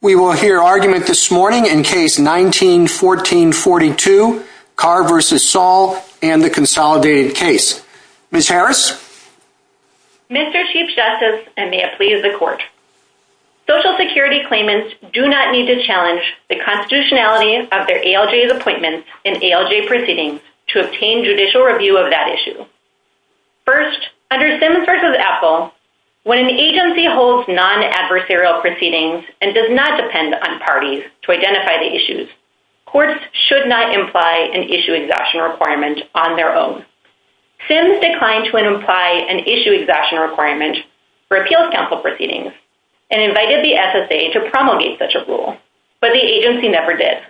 We will hear argument this morning in Case 19-14-42, Carr v. Saul and the Consolidated Case. Ms. Harris? Mr. Chief Justice, and may it please the Court, Social Security claimants do not need to challenge the constitutionality of their ALJ's appointments and ALJ proceedings to obtain judicial review of that issue. First, under Simmons v. Apfel, when an agency holds non-adversarial proceedings and does not depend on parties to identify the issues, courts should not imply an issue exhaustion requirement on their own. Simmons declined to imply an issue exhaustion requirement for appeals counsel proceedings and invited the SSA to promulgate such a rule, but the agency never did.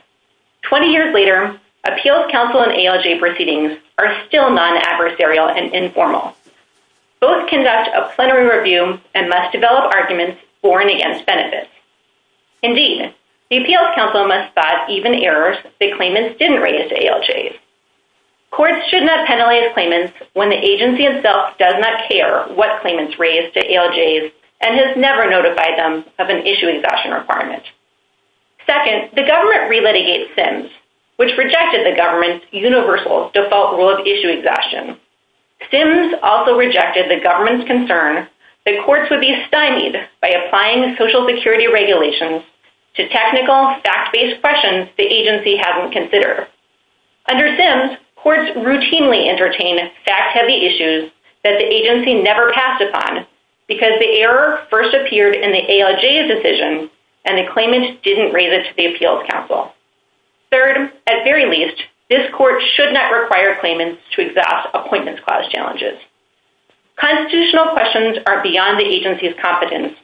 Twenty years later, appeals counsel and ALJ proceedings are still non-adversarial and informal. Both conduct a plenary review and must develop arguments for and against benefits. Indeed, the appeals counsel must spot even errors that claimants didn't raise to ALJs. Courts should not penalize claimants when the agency itself does not care what claimants raised to ALJs and has never notified them of an issue exhaustion requirement. Second, the government relitigates Simms, which rejected the government's universal default rule of issue exhaustion. Simms also rejected the government's concern that courts would be stymied by applying Social Security regulations to technical, fact-based questions the agency hasn't considered. Under Simms, courts routinely entertain fact-heavy issues that the agency never passed upon because the error first appeared in the ALJ's decision and the claimant didn't raise it to the appeals counsel. Third, at very least, this court should not require claimants to exhaust Appointments Clause challenges. Constitutional questions are beyond the agency's competence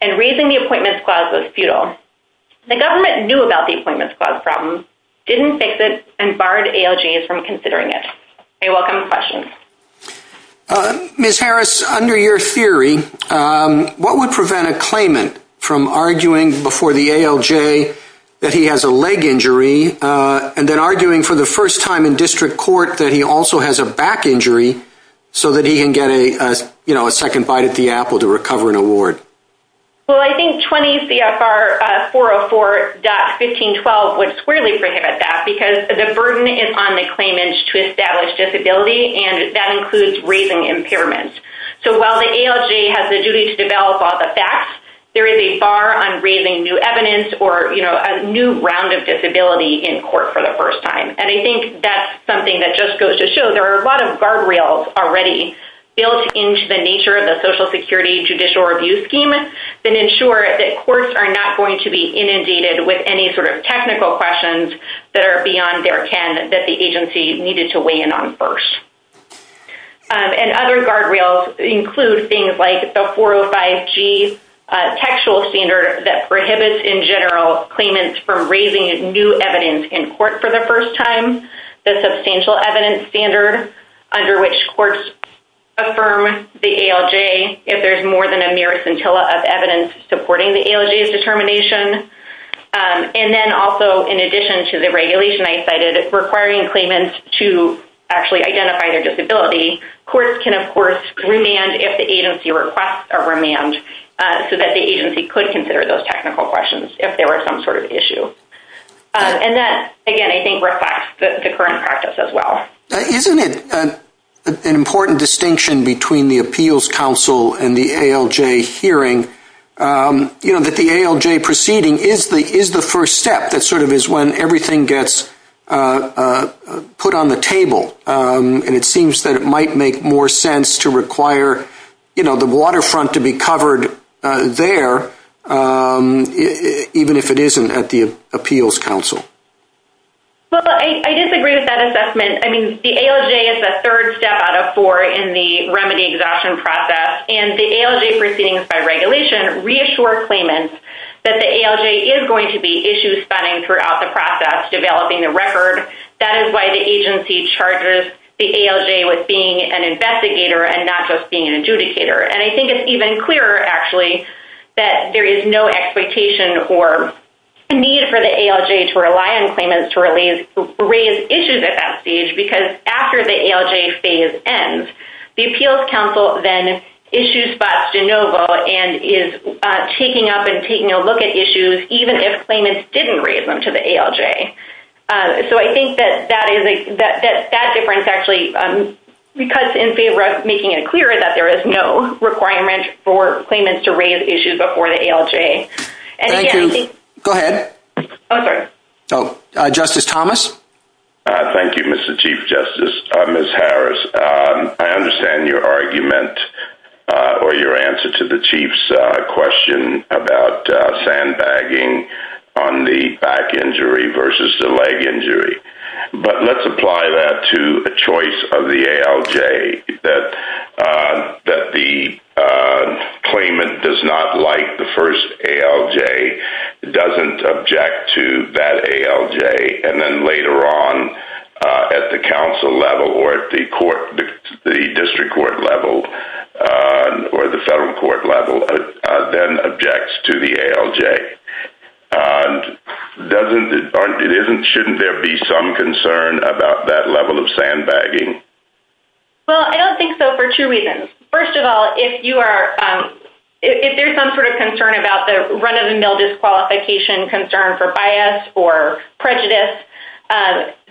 and raising the Appointments Clause was futile. The government knew about the Appointments Clause problem, didn't fix it, and barred ALJs from considering it. I welcome questions. Ms. Harris, under your theory, what would prevent a claimant from arguing before the leg injury and then arguing for the first time in district court that he also has a back injury so that he can get a second bite at the apple to recover an award? Well, I think 20 CFR 404.1512 would squarely prohibit that because the burden is on the claimants to establish disability and that includes raising impairments. So while the ALJ has the duty to develop all the facts, there is a bar on raising new evidence or a new round of disability in court for the first time. And I think that's something that just goes to show there are a lot of guardrails already built into the nature of the Social Security judicial review scheme that ensure that courts are not going to be inundated with any sort of technical questions that are beyond their ken that the agency needed to weigh in on first. And other guardrails include things like the 405G textual standard that prohibits in general claimants from raising new evidence in court for the first time. The substantial evidence standard under which courts affirm the ALJ if there's more than a mere scintilla of evidence supporting the ALJ's determination. And then also in addition to the regulation I cited requiring claimants to actually identify their disability, courts can of course remand if the agency requests a remand so that the agency could consider those technical questions if there were some sort of issue. And that, again, I think reflects the current practice as well. Isn't it an important distinction between the Appeals Council and the ALJ hearing that the ALJ proceeding is the first step that sort of is when everything gets put on the table? And it seems that it might make more sense to require, you know, the waterfront to be covered there even if it isn't at the Appeals Council. Well, I disagree with that assessment. I mean, the ALJ is the third step out of four in the remedy exhaustion process. And the ALJ proceedings by regulation reassure claimants that the ALJ is going to be issue-spanning throughout the process, developing the record. That is why the agency charges the ALJ with being an investigator and not just being an adjudicator. And I think it's even clearer, actually, that there is no expectation or need for the ALJ to rely on claimants to raise issues at that stage because after the ALJ phase ends, the Appeals Council then issue spots de novo and is taking up and taking a look at issues even if claimants didn't raise them to the ALJ. So I think that that difference actually cuts in favor of making it clearer that there is no requirement for claimants to raise issues before the ALJ. Thank you. Go ahead. Oh, sorry. Justice Thomas. Thank you, Mr. Chief Justice, Ms. Harris. I understand your argument or your answer to the Chief's question about sandbagging on the back injury versus the leg injury. But let's apply that to a choice of the ALJ that the claimant does not like the first ALJ, doesn't object to that ALJ, and then later on at the council level or at the district court level or the federal court level then objects to the ALJ. Shouldn't there be some concern about that level of sandbagging? Well, I don't think so for two reasons. First of all, if there's some sort of concern about the run-of-the-mill disqualification concern for bias or prejudice,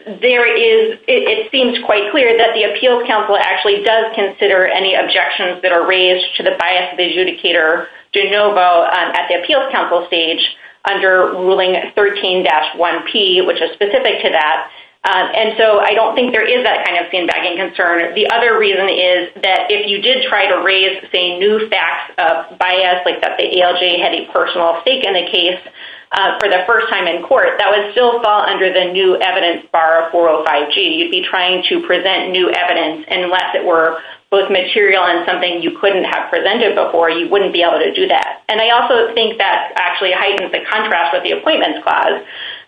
it seems quite clear that the Appeals Council actually does consider any objections that are raised to the bias of the adjudicator de novo at the Appeals Council stage under Ruling 13-1P, which is specific to that. And so I don't think there is that kind of sandbagging concern. The other reason is that if you did try to raise, say, new facts of bias, like that the ALJ had a personal stake in the case for the first time in court, that would still fall under the new evidence bar of 405G. You'd be trying to present new evidence. Unless it were both material and something you couldn't have presented before, you wouldn't be able to do that. And I also think that actually heightens the contrast with the Appointments Clause.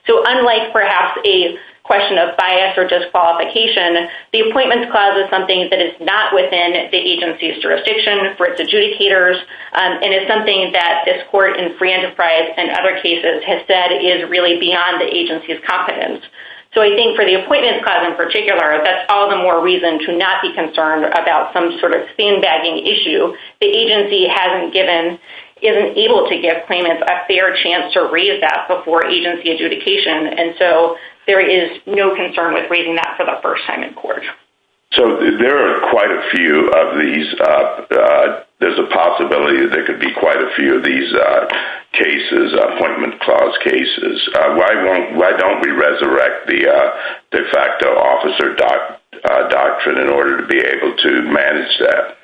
So unlike perhaps a question of bias or disqualification, the Appointments Clause is something that is not within the agency's jurisdiction for its adjudicators and is something that this court in free enterprise and other cases has said is really beyond the agency's competence. So I think for the Appointments Clause in particular, that's all the more reason to not be concerned about some sort of sandbagging issue. The agency isn't able to give claimants a fair chance to raise that before agency adjudication, and so there is no concern with raising that for the first time in court. So there are quite a few of these. There's a possibility that there could be quite a few of these cases, Appointments Clause cases. Why don't we resurrect the de facto officer doctrine in order to be able to manage that?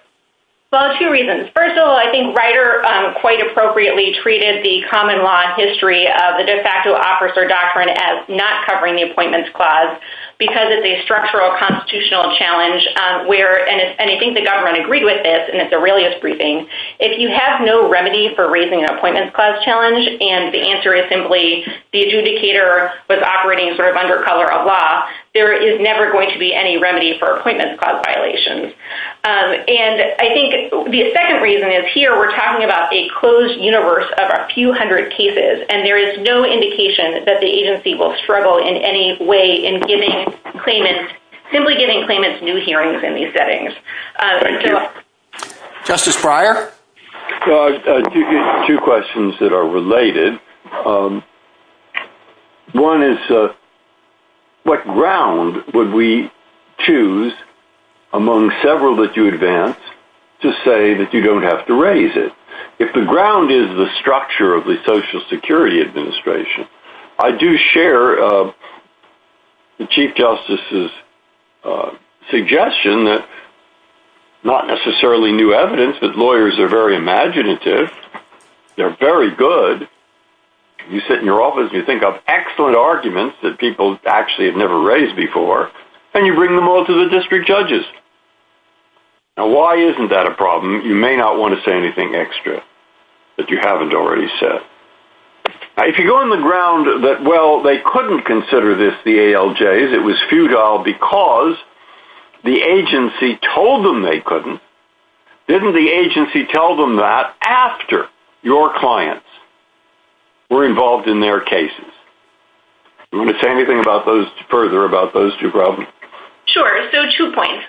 Well, two reasons. First of all, I think Ryder quite appropriately treated the common law history of the de facto officer doctrine as not covering the Appointments Clause because it's a structural constitutional challenge, and I think the government agreed with this, and it's a realist briefing. If you have no remedy for raising an Appointments Clause challenge, and the answer is simply the adjudicator was operating sort of under cover of law, there is never going to be any remedy for Appointments Clause violations. And I think the second reason is here we're talking about a closed universe of a few hundred cases, and there is no indication that the agency will struggle in any way in giving claimants, simply giving claimants new hearings in these settings. Thank you. Justice Breyer? Two questions that are related. One is what ground would we choose among several that you advance to say that you don't have to raise it? If the ground is the structure of the Social Security Administration, I do share the Chief Justice's suggestion that not necessarily new evidence, but lawyers are very imaginative. They're very good. You sit in your office and you think up excellent arguments that people actually have never raised before, and you bring them all to the district judges. Now, why isn't that a problem? You may not want to say anything extra that you haven't already said. If you go on the ground that, well, they couldn't consider this the ALJs, it was futile because the agency told them they couldn't, didn't the agency tell them that after your clients were involved in their cases? Do you want to say anything further about those two problems? Sure. So two points.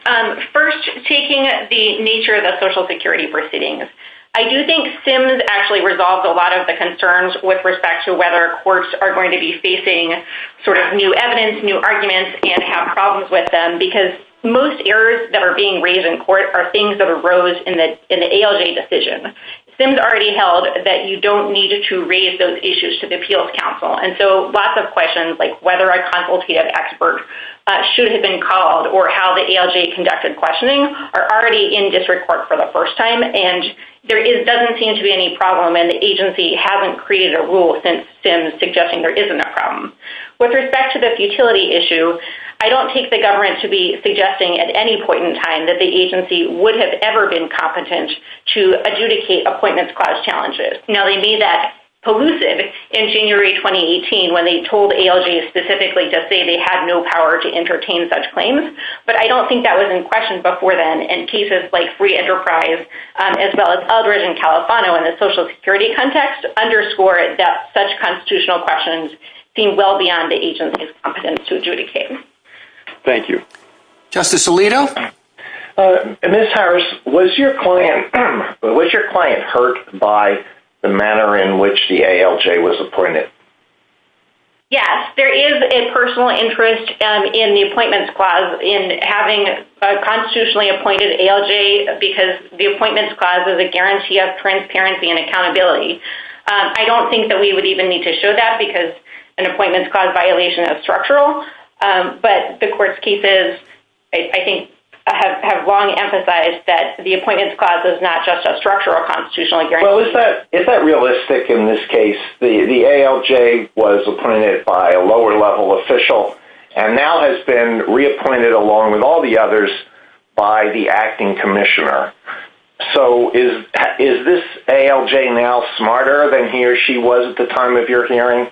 First, taking the nature of the Social Security proceedings, I do think SIMS actually resolves a lot of the concerns with respect to whether courts are going to be facing sort of new evidence, new arguments, and have problems with them, because most errors that are being raised in court are things that arose in the ALJ decision. SIMS already held that you don't need to raise those issues to the appeals council, and so lots of questions like whether a consultative expert should have been called or how the ALJ conducted questioning are already in district court for the first time, and there doesn't seem to be any problem, and the agency hasn't created a rule since SIMS suggesting there isn't a problem. With respect to the futility issue, I don't take the government to be suggesting at any point in time that the agency would have ever been competent to adjudicate appointments clause challenges. Now, they made that elusive in January 2018 when they told ALJ specifically to say they had no power to entertain such claims, but I don't think that was in question before then, and cases like Free Enterprise as well as Eldridge and Califano in the Social Security context underscore that such constitutional questions seem well beyond the agency's competence to adjudicate. Thank you. Justice Alito? Ms. Harris, was your client hurt by the manner in which the ALJ was appointed? Yes, there is a personal interest in the appointments clause in having a constitutionally appointed ALJ because the appointments clause is a guarantee of transparency and accountability. I don't think that we would even need to show that because an appointments clause violation is structural, but the court's cases, I think, have long emphasized that the appointments clause is not just a structural constitutional guarantee. Well, is that realistic in this case? The ALJ was appointed by a lower level official and now has been reappointed along with all the others by the acting commissioner. So is this ALJ now smarter than he or she was at the time of your hearing,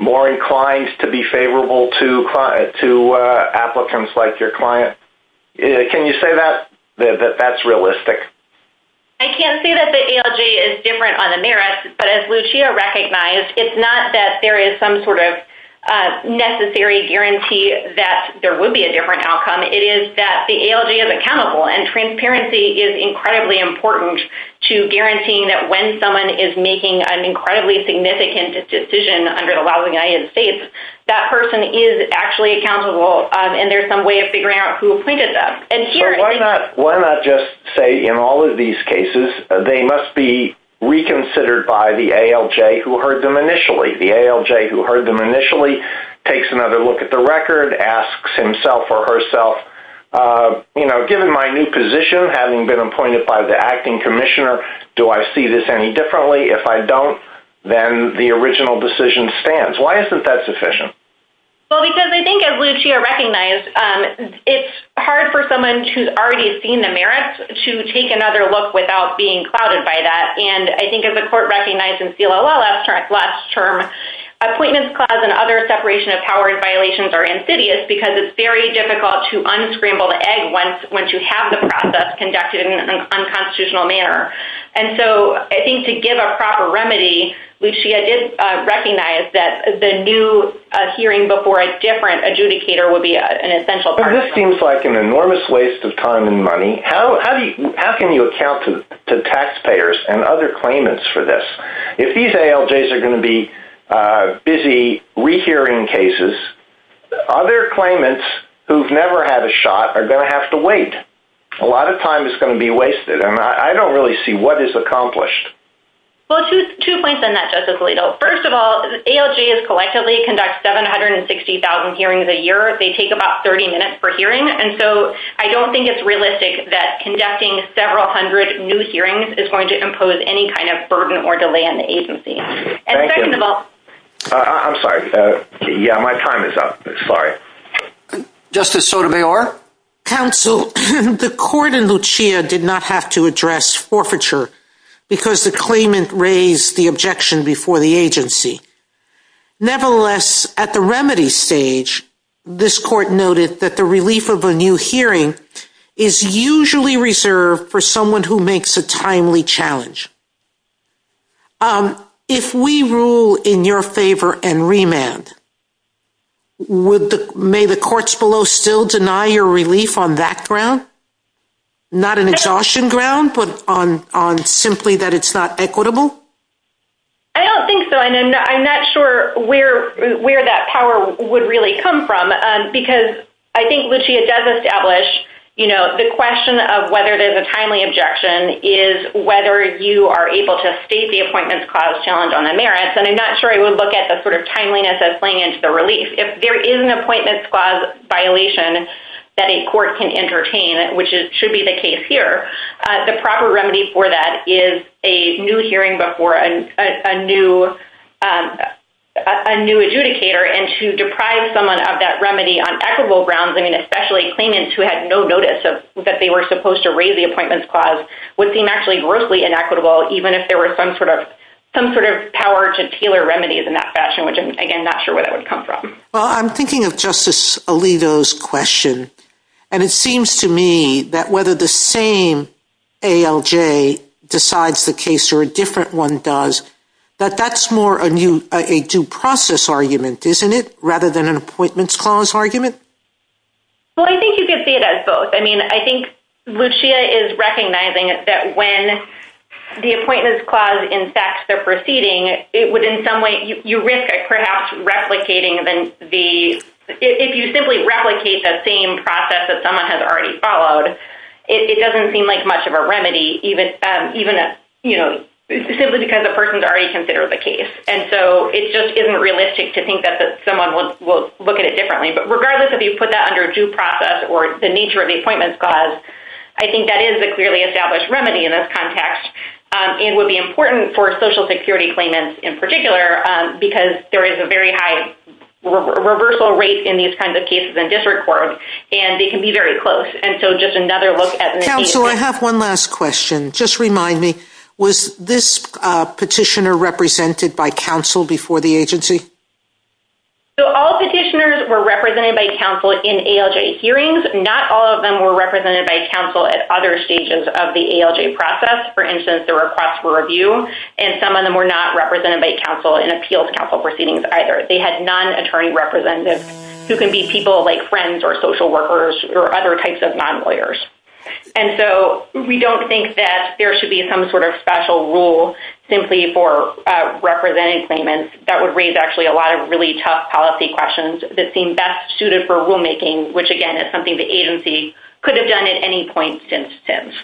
more inclined to be favorable to applicants like your client? Can you say that, that that's realistic? I can't say that the ALJ is different on the merits, but as Lucia recognized, it's not that there is some sort of necessary guarantee that there would be a different outcome. It is that the ALJ is accountable and transparency is incredibly important to guaranteeing that when someone is making an incredibly significant decision under the law of the United States, that person is actually accountable and there's some way of figuring out who appointed them. Why not just say in all of these cases, they must be reconsidered by the ALJ who heard them initially. The ALJ who heard them initially takes another look at the record, asks himself or herself, you know, given my new position, having been appointed by the acting commissioner, do I see this any differently? If I don't, then the original decision stands. Why isn't that sufficient? Well, because I think as Lucia recognized, it's hard for someone who's already seen the merits to take another look without being clouded by that. And I think as the court recognized in SELA law last term, appointments clause and other separation of power violations are insidious because it's very difficult to unscramble the egg once you have the process conducted in an unconstitutional manner. And so I think to give a proper remedy, Lucia did recognize that the new hearing before a different adjudicator would be an essential part of this. This seems like an enormous waste of time and money. How can you account to taxpayers and other claimants for this? If these ALJs are going to be busy rehearing cases, other claimants who've never had a shot are going to have to wait. A lot of time is going to be wasted. And I don't really see what is accomplished. Well, two points on that, Justice Alito. First of all, ALJs collectively conduct 760,000 hearings a year. They take about 30 minutes per hearing. And so I don't think it's realistic that conducting several hundred new hearings is going to impose any kind of burden or delay on the agency. Thank you. I'm sorry. Yeah, my time is up. Sorry. Justice Sotomayor? Counsel, the court in Lucia did not have to address forfeiture because the claimant raised the objection before the agency. Nevertheless, at the remedy stage, this court noted that the relief of a new hearing is usually reserved for someone who makes a timely challenge. If we rule in your favor and remand, may the courts below still deny your relief on that ground? Not an exhaustion ground, but on simply that it's not equitable? I don't think so. And I'm not sure where that power would really come from because I think Lucia does establish, you know, the question of whether there's a timely objection is whether you are able to state the appointments clause challenge on the merits. And I'm not sure I would look at the sort of timeliness as playing into the relief. If there is an appointments clause violation that a court can entertain, which should be the case here, the proper remedy for that is a new hearing before a new adjudicator. And to deprive someone of that remedy on equitable grounds, I mean, especially claimants who had no notice that they were supposed to raise the appointments clause, would seem actually grossly inequitable, even if there were some sort of power to tailor remedies in that fashion, which I'm, again, not sure where that would come from. Well, I'm thinking of Justice Alito's question. And it seems to me that whether the same ALJ decides the case or a different one does, that that's more a due process argument, isn't it, rather than an appointments clause argument? Well, I think you could see it as both. I mean, I think Lucia is recognizing that when the appointments clause infects the proceeding, it would in some way, you risk perhaps replicating the, if you simply replicate that same process that someone has already followed, it doesn't seem like much of a remedy, even simply because the person's already considered the case. And so it just isn't realistic to think that someone will look at it differently. But regardless if you put that under due process or the nature of the appointments clause, I think that is a clearly established remedy in this context and would be important for Social Security claimants in particular because there is a very high reversal rate in these kinds of cases in district court, and they can be very close. And so just another look at this. Counsel, I have one last question. Just remind me, was this petitioner represented by counsel before the agency? So all petitioners were represented by counsel in ALJ hearings. Not all of them were represented by counsel at other stages of the ALJ process. For instance, the request for review, and some of them were not represented by counsel in appeals counsel proceedings either. They had non-attorney representatives who can be people like friends or social workers or other types of non-lawyers. And so we don't think that there should be some sort of special rule simply for representing claimants. That would raise actually a lot of really tough policy questions that seem best suited for rulemaking, which again is something the agency could have done at any point since.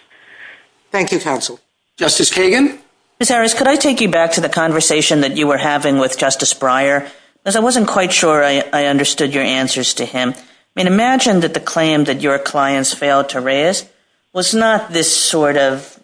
Thank you, counsel. Justice Kagan? Ms. Harris, could I take you back to the conversation that you were having with Justice Breyer? Because I wasn't quite sure I understood your answers to him. I mean, imagine that the claim that your clients failed to raise was not this sort of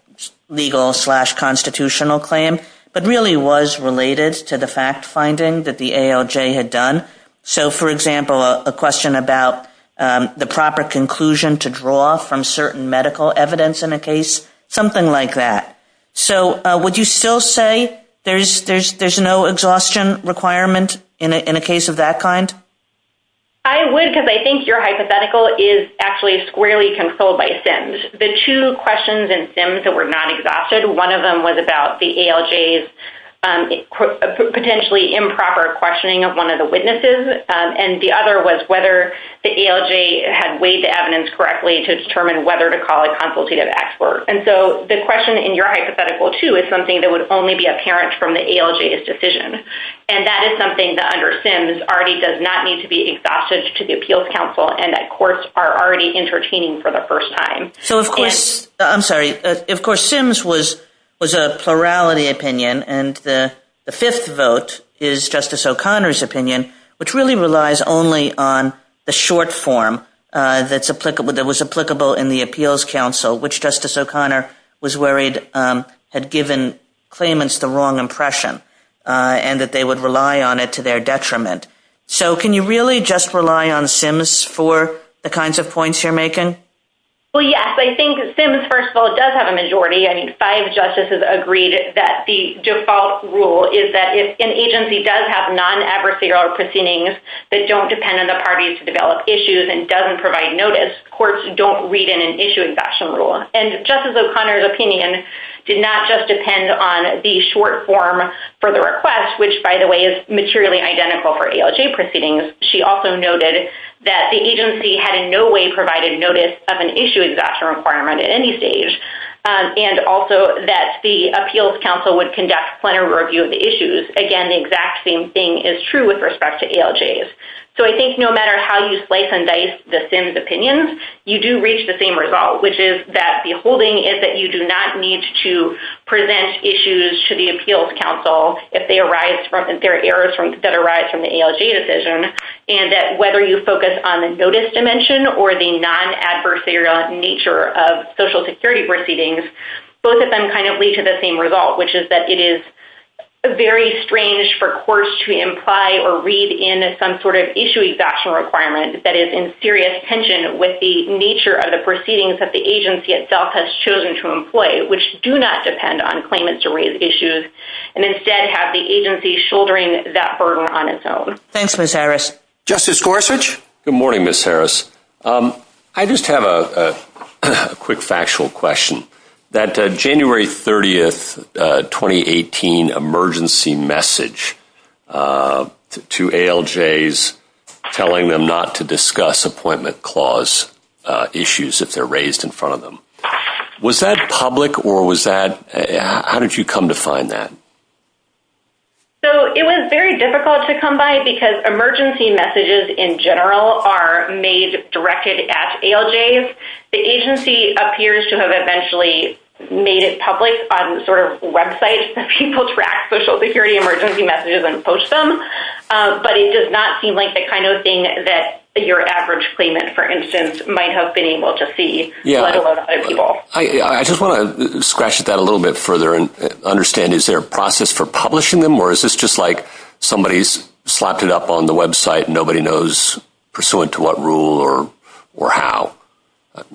legal-slash-constitutional claim, but really was related to the fact finding that the ALJ had done. So, for example, a question about the proper conclusion to draw from certain medical evidence in a case, something like that. So would you still say there's no exhaustion requirement in a case of that kind? I would because I think your hypothetical is actually squarely controlled by SIMS. The two questions in SIMS that were not exhausted, one of them was about the ALJ's potentially improper questioning of one of the witnesses, and the other was whether the ALJ had weighed the evidence correctly to determine whether to call a consultative expert. And so the question in your hypothetical, too, is something that would only be apparent from the ALJ's decision. And that is something that under SIMS already does not need to be exhausted to the Appeals Council, and that courts are already entertaining for the first time. I'm sorry. Of course, SIMS was a plurality opinion, and the fifth vote is Justice O'Connor's opinion, which really relies only on the short form that was applicable in the Appeals Council, which Justice O'Connor was worried had given claimants the wrong impression. And that they would rely on it to their detriment. So can you really just rely on SIMS for the kinds of points you're making? Well, yes. I think SIMS, first of all, does have a majority. I mean, five justices agreed that the default rule is that if an agency does have non-adversarial proceedings that don't depend on the parties to develop issues and doesn't provide notice, courts don't read in an issue-exemption rule. And Justice O'Connor's opinion did not just depend on the short form for the request, which, by the way, is materially identical for ALJ proceedings. She also noted that the agency had in no way provided notice of an issue-exemption requirement at any stage, and also that the Appeals Council would conduct a plenary review of the issues. Again, the exact same thing is true with respect to ALJs. So I think no matter how you slice and dice the SIMS opinions, you do reach the same result, which is that the holding is that you do not need to present issues to the Appeals Council if there are errors that arise from the ALJ decision, and that whether you focus on the notice dimension or the non-adversarial nature of Social Security proceedings, both of them kind of lead to the same result, which is that it is very strange for courts to imply or read in some sort of issue-exemption requirement that is in serious tension with the nature of the proceedings that the agency itself has chosen to employ, which do not depend on claimants to raise issues, and instead have the agency shouldering that burden on its own. Thanks, Ms. Harris. Justice Gorsuch? Good morning, Ms. Harris. I just have a quick factual question. That January 30, 2018, emergency message to ALJs telling them not to discuss appointment clause issues if they're raised in front of them, was that public or how did you come to find that? It was very difficult to come by because emergency messages in general are made directed at ALJs. The agency appears to have eventually made it public on sort of websites that people track Social Security emergency messages and post them, but it does not seem like the kind of thing that your average claimant, for instance, might have been able to see, let alone other people. I just want to scratch at that a little bit further and understand is there a process for publishing them or is this just like somebody's slapped it up on the website and nobody knows pursuant to what rule or how?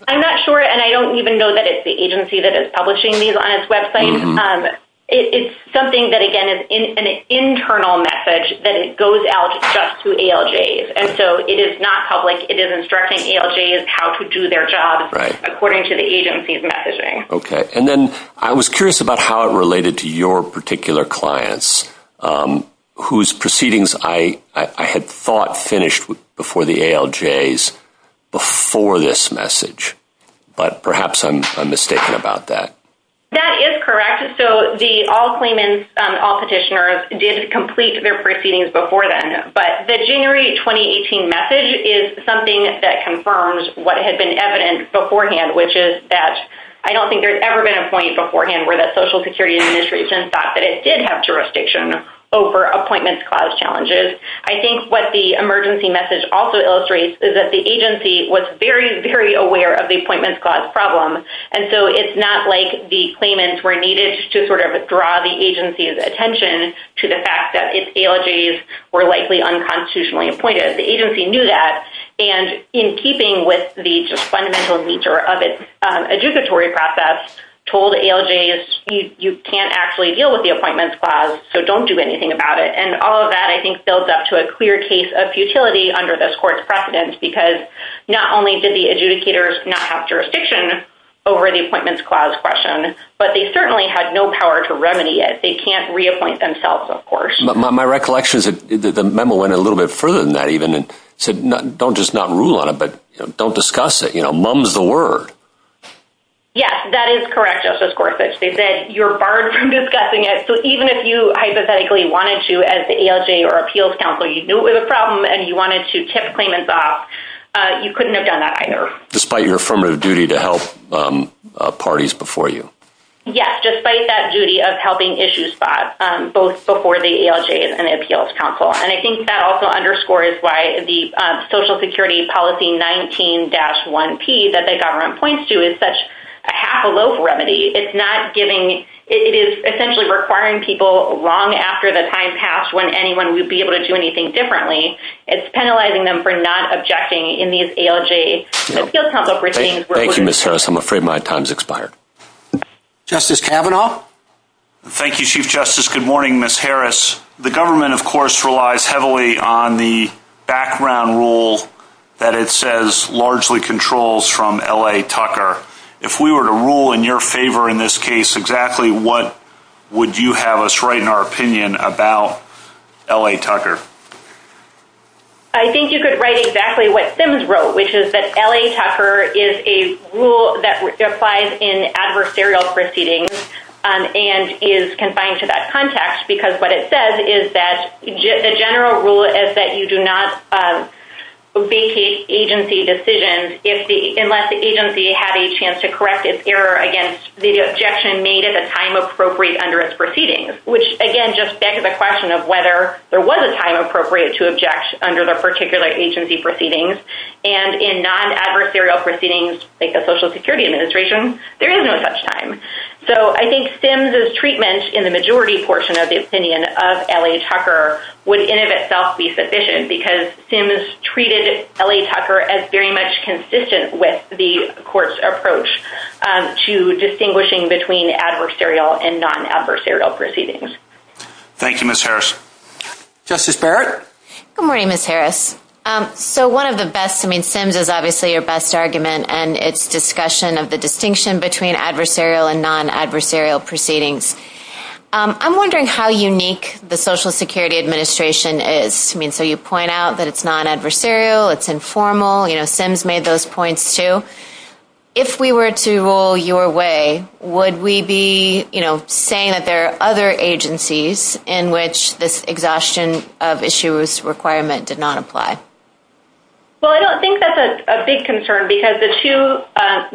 I'm not sure, and I don't even know that it's the agency that is publishing these on its website. It's something that, again, is an internal message that it goes out just to ALJs, and so it is not public. It is instructing ALJs how to do their job according to the agency's messaging. Okay. And then I was curious about how it related to your particular clients whose proceedings I had thought finished before the ALJs before this message, but perhaps I'm mistaken about that. That is correct. So the all claimants, all petitioners, did complete their proceedings before then, but the January 2018 message is something that confirms what had been evident beforehand, which is that I don't think there's ever been a point beforehand where the Social Security Administration thought that it did have jurisdiction over Appointments Clause challenges. I think what the emergency message also illustrates is that the agency was very, very aware of the Appointments Clause problem, and so it's not like the claimants were needed to sort of draw the agency's attention to the fact that its ALJs were likely unconstitutionally appointed. The agency knew that, and in keeping with the fundamental nature of its adjudicatory process, told ALJs, you can't actually deal with the Appointments Clause, so don't do anything about it. And all of that, I think, builds up to a clear case of futility under this Court's precedence, because not only did the adjudicators not have jurisdiction over the Appointments Clause question, but they certainly had no power to remedy it. They can't reappoint themselves, of course. My recollection is that the memo went a little bit further than that, even, and said, don't just not rule on it, but don't discuss it. Mum's the word. Yes, that is correct, Justice Gorsuch. They said you're barred from discussing it, so even if you hypothetically wanted to as the ALJ or Appeals Counsel, you knew it was a problem and you wanted to tip claimants off, you couldn't have done that either. Despite your affirmative duty to help parties before you. Yes, despite that duty of helping issue spots, both before the ALJs and the Appeals Counsel. And I think that also underscores why the Social Security Policy 19-1P that the government points to is such a half-a-loaf remedy. It's not giving... It is essentially requiring people long after the time passed when anyone would be able to do anything differently. It's penalizing them for not objecting in these ALJs and Appeals Counsel proceedings. Thank you, Ms. Harris. I'm afraid my time's expired. Justice Kavanaugh? Thank you, Chief Justice. Good morning, Ms. Harris. The government, of course, relies heavily on the background rule that it says largely controls from L.A. Tucker. If we were to rule in your favor in this case, exactly what would you have us write in our opinion about L.A. Tucker? I think you could write exactly what Sims wrote, which is that L.A. Tucker is a rule that applies in adversarial proceedings and is confined to that context because what it says is that the general rule is that you do not vacate agency decisions unless the agency had a chance to correct its error against the objection made at the time appropriate under its proceedings, which, again, just begs the question of whether there was a time appropriate to object under the particular agency proceedings. And in non-adversarial proceedings, like the Social Security Administration, there is no such time. So I think Sims' treatment in the majority portion of the opinion of L.A. Tucker would in and of itself be sufficient because Sims treated L.A. Tucker as very much consistent with the court's approach to distinguishing between adversarial and non-adversarial proceedings. Thank you, Ms. Harris. Justice Barrett? Good morning, Ms. Harris. So one of the best... I mean, Sims is obviously your best argument and its discussion of the distinction between adversarial and non-adversarial proceedings. I'm wondering how unique the Social Security Administration is. I mean, so you point out that it's non-adversarial, it's informal. You know, Sims made those points too. If we were to rule your way, would we be, you know, saying that there are other agencies in which this exhaustion of issuers' requirement did not apply? Well, I don't think that's a big concern because the two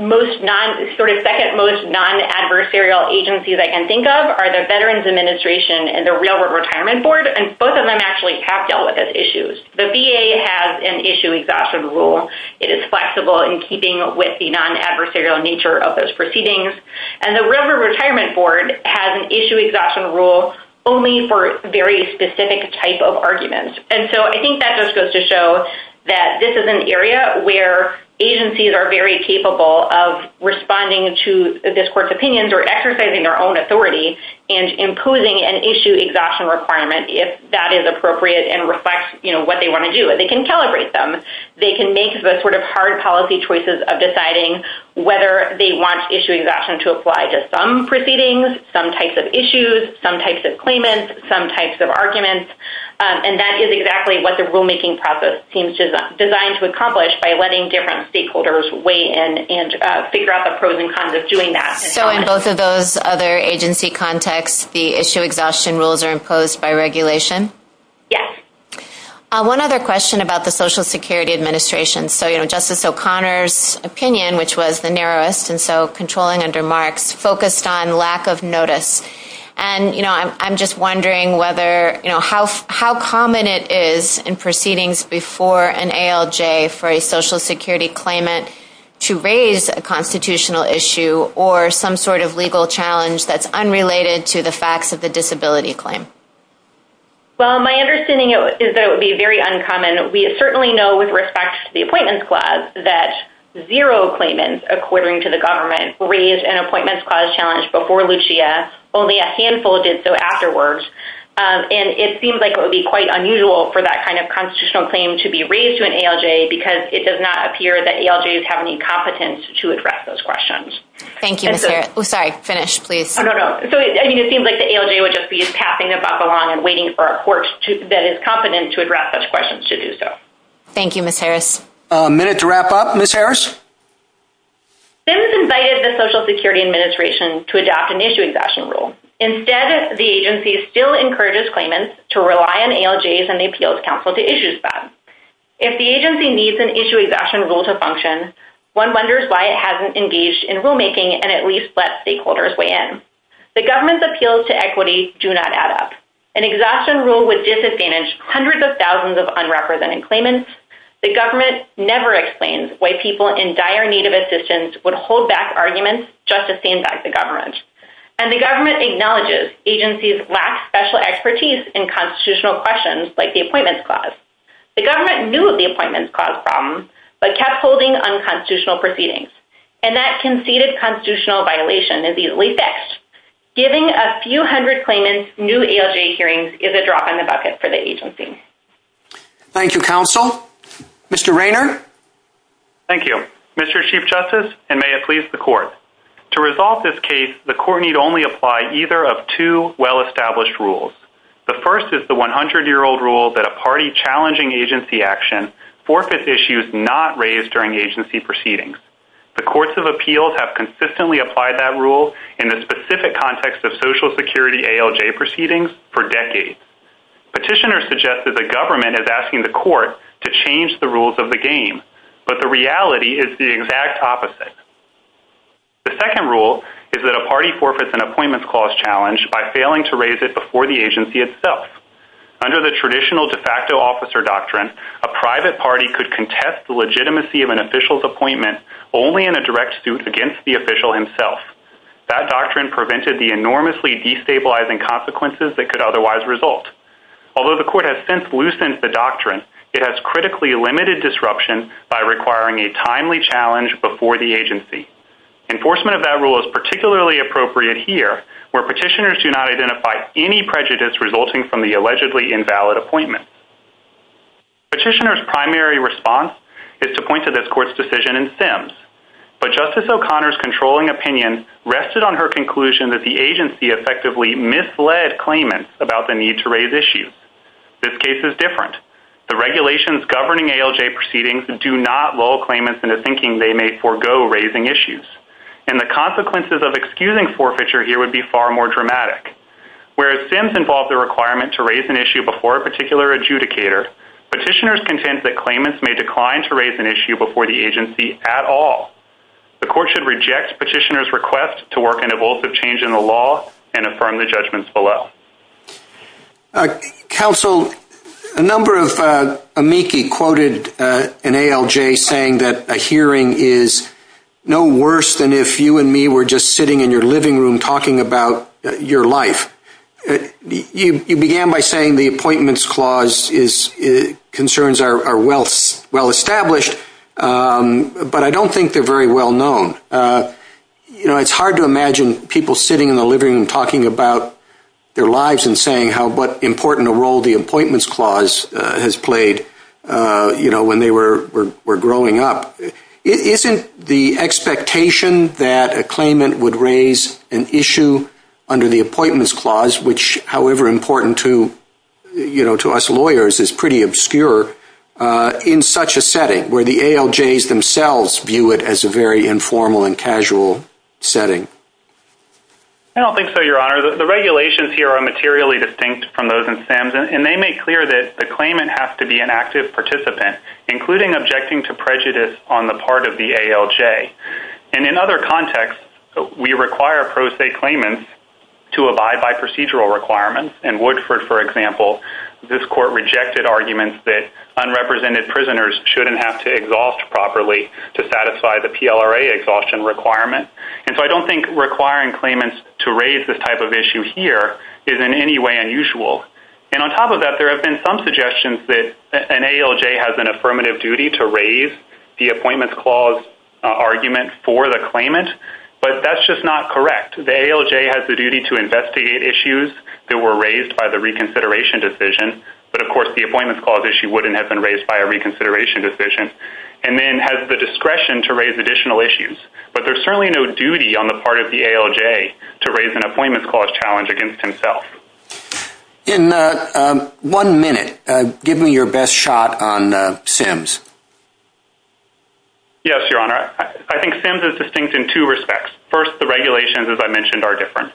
most non... sort of second-most non-adversarial agencies I can think of are the Veterans Administration and the Railroad Retirement Board, and both of them actually have dealt with those issues. The VA has an issue exhaustion rule. It is flexible in keeping with the non-adversarial nature of those proceedings. And the Railroad Retirement Board has an issue exhaustion rule only for very specific type of arguments. And so I think that just goes to show that this is an area where agencies are very capable of responding to this court's opinions or exercising their own authority and imposing an issue exhaustion requirement if that is appropriate and reflects, you know, what they want to do. They can calibrate them. They can make the sort of hard policy choices of deciding whether they want issue exhaustion to apply to some proceedings, some types of issues, some types of claimants, some types of arguments. And that is exactly what the rulemaking process seems designed to accomplish by letting different stakeholders weigh in and figure out the pros and cons of doing that. So in both of those other agency contexts, the issue exhaustion rules are imposed by regulation? Yes. One other question about the Social Security Administration. So, you know, Justice O'Connor's opinion, which was the narrowest, and so controlling under Marx, focused on lack of notice. And, you know, I'm just wondering whether, you know, how common it is in proceedings before an ALJ for a Social Security claimant to raise a constitutional issue or some sort of legal challenge that's unrelated to the facts of the disability claim. Well, my understanding is that it would be very uncommon. We certainly know with respect to the Appointments Clause that zero claimants, according to the government, raised an Appointments Clause challenge before Lucia. Only a handful did so afterwards. And it seems like it would be quite unusual for that kind of constitutional claim to be raised to an ALJ because it does not appear that ALJs have any competence to address those questions. Thank you, Ms. Harris. Oh, sorry, finish, please. Oh, no, no. So, I mean, it seems like the ALJ would just be passing it up along and waiting for a court that is competent to address those questions to do so. Thank you, Ms. Harris. A minute to wrap up, Ms. Harris? SIMS invited the Social Security Administration to adopt an issue exhaustion rule. Instead, the agency still encourages claimants to rely on ALJs and the Appeals Council to issue them. If the agency needs an issue exhaustion rule to function, one wonders why it hasn't engaged in rulemaking and at least let stakeholders weigh in. The government's appeals to equity do not add up. An exhaustion rule would disadvantage hundreds of thousands of unrepresented claimants. The government never explains why people in dire need of assistance would hold back arguments just to stand back the government. And the government acknowledges agencies lack special expertise in constitutional questions like the Appointments Clause. The government knew of the Appointments Clause problem but kept holding unconstitutional proceedings. And that conceded constitutional violation is easily fixed. Giving a few hundred claimants new ALJ hearings is a drop in the bucket for the agency. Thank you, counsel. Thank you, Mr. Chief Justice, and may it please the court. To resolve this case, the court need only apply either of two well-established rules. The first is the 100-year-old rule that a party challenging agency action forfeits issues not raised during agency proceedings. The courts of appeals have consistently applied that rule in the specific context of Social Security ALJ proceedings for decades. Petitioners suggest that the government is asking the court to change the rules of the game. But the reality is the exact opposite. The second rule is that a party forfeits an Appointments Clause challenge by failing to raise it before the agency itself. Under the traditional de facto officer doctrine, a private party could contest the legitimacy of an official's appointment only in a direct suit against the official himself. That doctrine prevented the enormously destabilizing consequences that could otherwise result. Although the court has since loosened the doctrine, it has critically limited disruption by requiring a timely challenge before the agency. Enforcement of that rule is particularly appropriate here, where petitioners do not identify any prejudice resulting from the allegedly invalid appointment. Petitioners' primary response is to point to this court's decision in Sims. But Justice O'Connor's controlling opinion rested on her conclusion that the agency effectively misled claimants about the need to raise issues. This case is different. The regulations governing ALJ proceedings do not lull claimants into thinking they may forego raising issues. And the consequences of excusing forfeiture here would be far more dramatic. Whereas Sims involved the requirement to raise an issue before a particular adjudicator, petitioners contend that claimants may decline to raise an issue before the agency at all. The court should reject petitioners' request to work an evulsive change in the law and affirm the judgments below. Counsel, a number of amici quoted an ALJ saying that a hearing is no worse than if you and me were just sitting in your living room talking about your life. You began by saying the appointments clause concerns are well established, but I don't think they're very well known. You know, it's hard to imagine people sitting in the living room talking about their lives and saying what important a role the appointments clause has played, you know, when they were growing up. Isn't the expectation that a claimant would raise an issue under the appointments clause, which, however important to us lawyers, is pretty obscure in such a setting where the ALJs themselves view it as a very informal and casual setting? I don't think so, Your Honor. The regulations here are materially distinct from those in Sims, and they make clear that the claimant has to be an active participant, including objecting to prejudice on the part of the ALJ. And in other contexts, we require pro se claimants to abide by procedural requirements. In Woodford, for example, this court rejected arguments that unrepresented prisoners shouldn't have to exhaust properly to satisfy the PLRA exhaustion requirement. And so I don't think requiring claimants to raise this type of issue here is in any way unusual. And on top of that, there have been some suggestions that an ALJ has an affirmative duty to raise the appointments clause argument for the claimant, but that's just not correct. The ALJ has the duty to investigate issues that were raised by the reconsideration decision, but of course the appointments clause issue wouldn't have been raised by a reconsideration decision, and then has the discretion to raise additional issues. But there's certainly no duty on the part of the ALJ to raise an appointments clause challenge against himself. In one minute, give me your best shot on SIMS. Yes, Your Honor. I think SIMS is distinct in two respects. First, the regulations, as I mentioned, are different.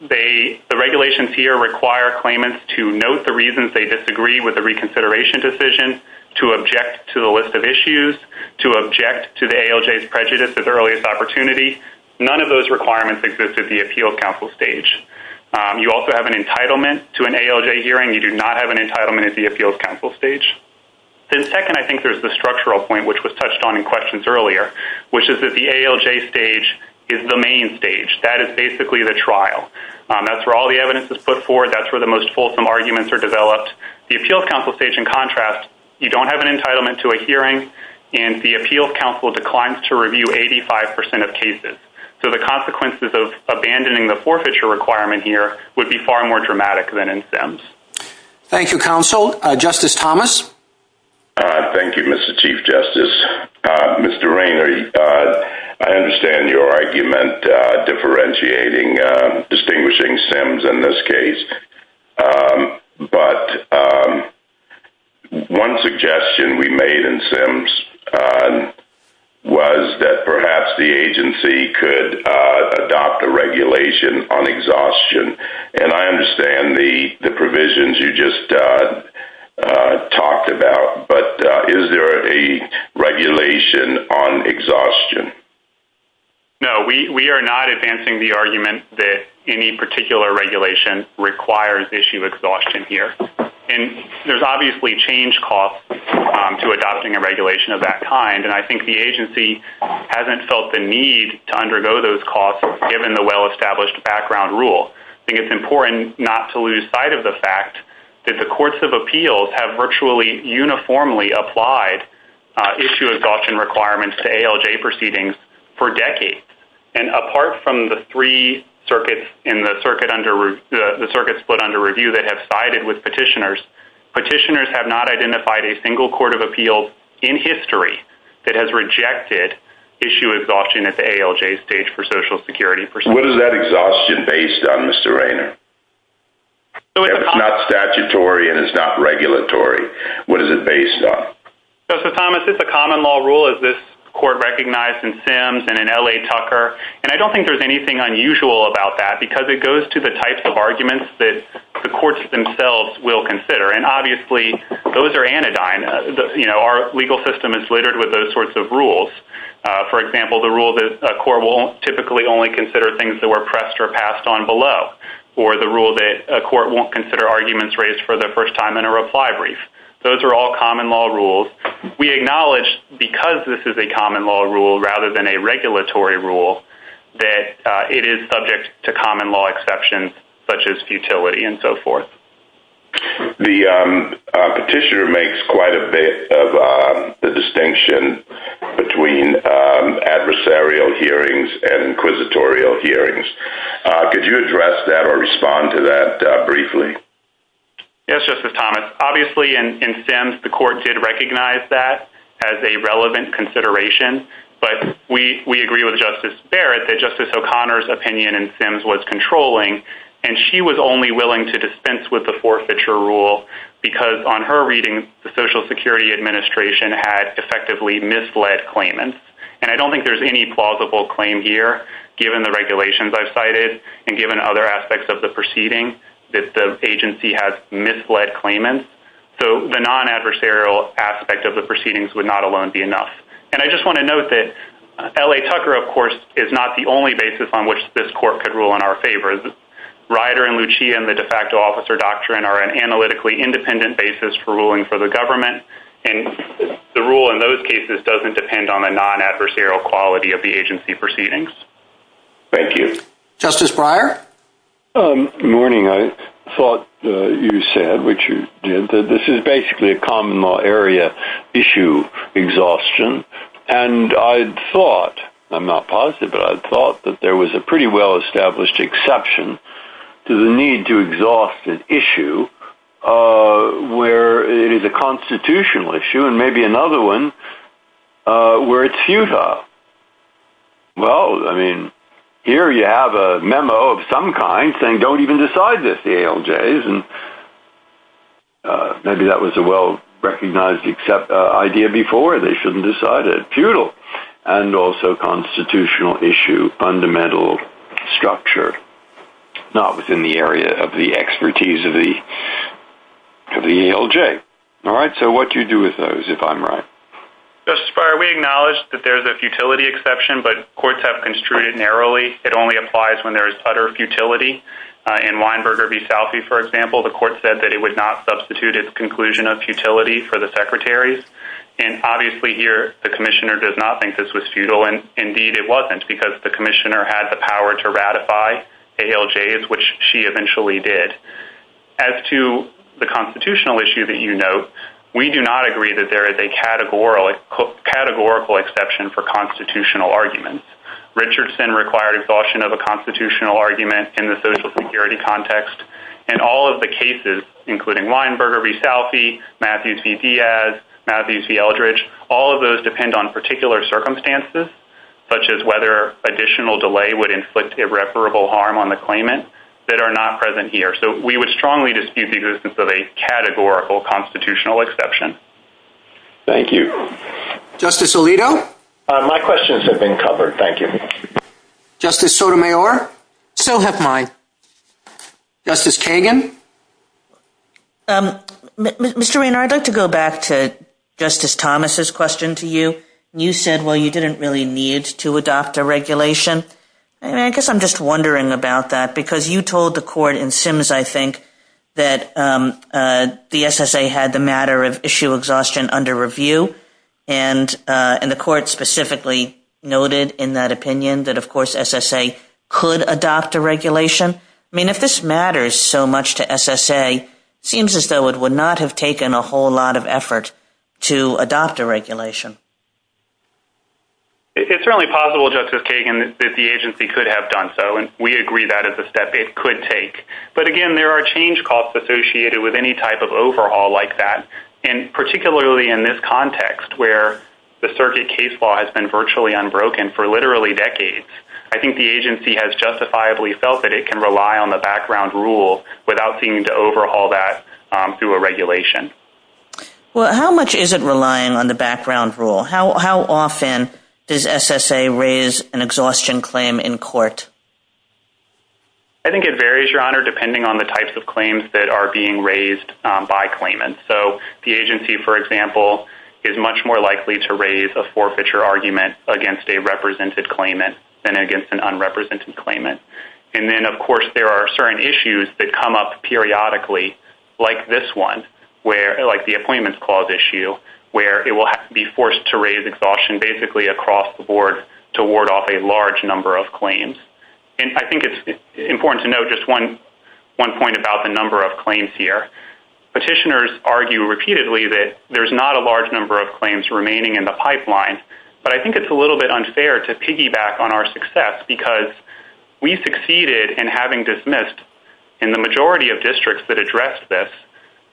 The regulations here require claimants to note the reasons they disagree with the reconsideration decision, to object to the list of issues, to object to the ALJ's prejudice at the earliest opportunity. None of those requirements exist at the Appeals Council stage. You also have an entitlement to an ALJ hearing. You do not have an entitlement at the Appeals Council stage. Then second, I think there's the structural point, which was touched on in questions earlier, which is that the ALJ stage is the main stage. That is basically the trial. That's where all the evidence is put forward. That's where the most fulsome arguments are developed. you don't have an entitlement to a hearing, and the Appeals Council declines to review 85% of cases. So the consequences of abandoning the forfeiture requirement here would be far more dramatic than in SIMS. Thank you, Counsel. Justice Thomas? Thank you, Mr. Chief Justice. Mr. Rayner, I understand your argument differentiating, distinguishing SIMS in this case. But one suggestion we made in SIMS was that perhaps the agency could adopt a regulation on exhaustion. And I understand the provisions you just talked about, but is there a regulation on exhaustion? No, we are not advancing the argument that any particular regulation requires issue exhaustion here. And there's obviously changed costs to adopting a regulation of that kind, and I think the agency hasn't felt the need to undergo those costs given the well-established background rule. I think it's important not to lose sight of the fact that the courts of appeals have virtually uniformly applied issue exhaustion requirements to ALJ proceedings for decades. And apart from the three circuits in the circuit split under review that have sided with petitioners, petitioners have not identified a single court of appeals in history that has rejected issue exhaustion at the ALJ stage for Social Security. What is that exhaustion based on, Mr. Rayner? It's not statutory and it's not regulatory. What is it based on? Justice Thomas, it's a common law rule, as this court recognized in Sims and in L.A. Tucker, and I don't think there's anything unusual about that because it goes to the types of arguments that the courts themselves will consider, and obviously those are anodyne. Our legal system is littered with those sorts of rules. For example, the rule that a court will typically only consider things that were pressed or passed on below, or the rule that a court won't consider arguments raised for the first time in a reply brief. Those are all common law rules. We acknowledge, because this is a common law rule rather than a regulatory rule, that it is subject to common law exceptions, such as futility and so forth. The petitioner makes quite a bit of the distinction between adversarial hearings and inquisitorial hearings. Could you address that or respond to that briefly? Yes, Justice Thomas. Obviously, in Sims, the court did recognize that as a relevant consideration, but we agree with Justice Barrett that Justice O'Connor's opinion in Sims was controlling, and she was only willing to dispense with the forfeiture rule because, on her reading, the Social Security Administration had effectively misled claimants. And I don't think there's any plausible claim here, given the regulations I've cited and given other aspects of the proceeding, that the agency has misled claimants. So the non-adversarial aspect of the proceedings would not alone be enough. And I just want to note that L.A. Tucker, of course, is not the only basis on which this court could rule in our favor. Ryder and Lucia and the de facto officer doctrine are an analytically independent basis for ruling for the government, and the rule in those cases doesn't depend on the non-adversarial quality of the agency proceedings. Thank you. Justice Breyer? Good morning. I thought you said, which you did, that this is basically a common-law area issue exhaustion, and I thought, I'm not positive, but I thought that there was a pretty well-established exception to the need to exhaust an issue where it is a constitutional issue and maybe another one where it's feudal. Well, I mean, here you have a memo of some kind saying don't even decide this, the ALJs, and maybe that was a well-recognized idea before. They shouldn't decide it. Feudal and also constitutional issue, fundamental structure, not within the area of the expertise of the ALJ. All right, so what do you do with those, if I'm right? Justice Breyer, we acknowledge that there's a futility exception, but courts have construed it narrowly. It only applies when there is utter futility. In Weinberger v. Salfie, for example, the court said that it would not substitute its conclusion of futility for the Secretary's, and obviously here, the Commissioner does not think this was feudal, and indeed it wasn't because the Commissioner had the power to ratify ALJs, which she eventually did. As to the constitutional issue that you note, we do not agree that there is a categorical exception for constitutional arguments. Richardson required exhaustion of a constitutional argument in the social security context, and all of the cases, including Weinberger v. Salfie, Matthews v. Diaz, Matthews v. Eldridge, all of those depend on particular circumstances, such as whether additional delay would inflict irreparable harm on the claimant, that are not present here. So we would strongly dispute the existence of a categorical constitutional exception. Thank you. Justice Alito? My questions have been covered, thank you. Justice Sotomayor? So have mine. Justice Kagan? Mr. Raynor, I'd like to go back to Justice Thomas' question to you. You said, well, you didn't really need to adopt a regulation. I guess I'm just wondering about that because you told the court in Sims, I think, that the SSA had the matter of issue exhaustion under review, and the court specifically noted in that opinion that, of course, SSA could adopt a regulation. I mean, if this matters so much to SSA, it seems as though it would not have taken a whole lot of effort to adopt a regulation. It's certainly possible, Justice Kagan, that the agency could have done so, and we agree that is a step it could take. But, again, there are change costs associated with any type of overhaul like that, and particularly in this context, where the circuit case law has been virtually unbroken for literally decades. I think the agency has justifiably felt that it can rely on the background rule without seeing to overhaul that through a regulation. Well, how much is it relying on the background rule? How often does SSA raise an exhaustion claim in court? I think it varies, Your Honor, depending on the types of claims that are being raised by claimants. So, the agency, for example, is much more likely to raise a forfeiture argument against a represented claimant than against an unrepresented claimant. And then, of course, there are certain issues that come up periodically, like this one, like the appointments clause issue, where it will be forced to raise exhaustion basically across the board to ward off a large number of claims. And I think it's important to note just one point about the number of claims here. Petitioners argue repeatedly that there's not a large number of claims remaining in the pipeline, but I think it's a little bit unfair to piggyback on our success because we succeeded in having dismissed, in the majority of districts that addressed this,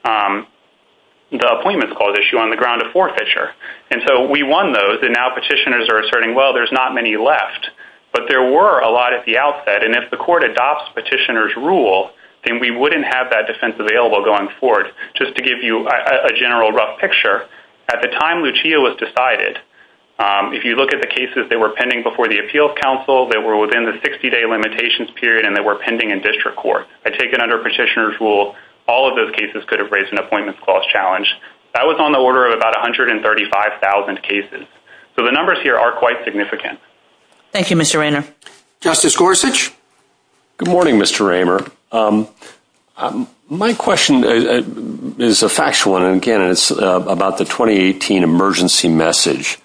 the appointments clause issue on the ground of forfeiture. And so we won those, and now petitioners are asserting, well, there's not many left. But there were a lot at the outset, and if the court adopts petitioner's rule, then we wouldn't have that defense available going forward. Just to give you a general rough picture, at the time Lucia was decided, if you look at the cases that were pending before the appeals council, they were within the 60-day limitations period and they were pending in district court. I take it under petitioner's rule, all of those cases could have raised an appointments clause challenge. That was on the order of about 135,000 cases. So the numbers here are quite significant. Thank you, Mr. Raymer. Justice Gorsuch? Good morning, Mr. Raymer. My question is a factual one, and again, it's about the 2018 emergency message.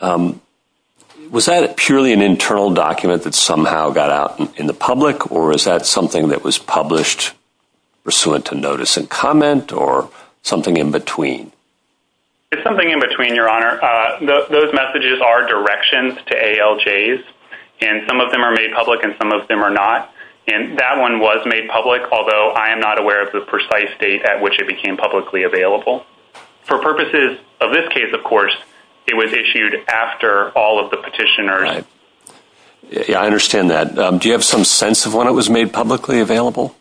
Was that purely an internal document that somehow got out in the public, or is that something that was published pursuant to notice and comment, or something in between? It's something in between, Your Honor. Those messages are directions to ALJs, and some of them are made public and some of them are not. That one was made public, although I am not aware of the precise date at which it became publicly available. For purposes of this case, of course, it was issued after all of the petitioners. I understand that. Do you have some sense of when it was made publicly available?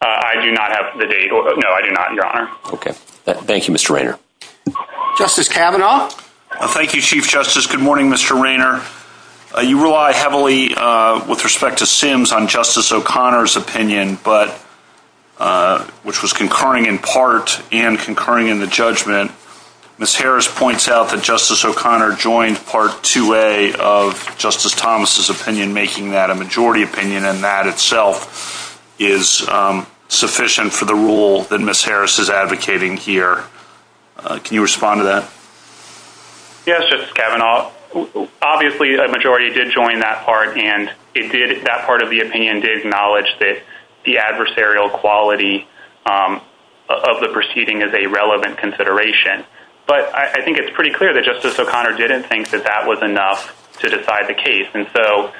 I do not have the date. No, I do not, Your Honor. Okay. Thank you, Mr. Raymer. Justice Kavanaugh? Thank you, Chief Justice. Good morning, Mr. Raymer. You rely heavily, with respect to Sims, on Justice O'Connor's opinion, which was concurring in part and concurring in the judgment. Ms. Harris points out that Justice O'Connor joined Part 2A of Justice Thomas' opinion, making that a majority opinion, and that itself is sufficient for the rule that Ms. Harris is advocating here. Can you respond to that? Yes, Justice Kavanaugh. Obviously, a majority did join that part, and that part of the opinion did acknowledge that the adversarial quality of the proceeding is a relevant consideration. But I think it's pretty clear that Justice O'Connor didn't think that that was enough to decide the case. And so,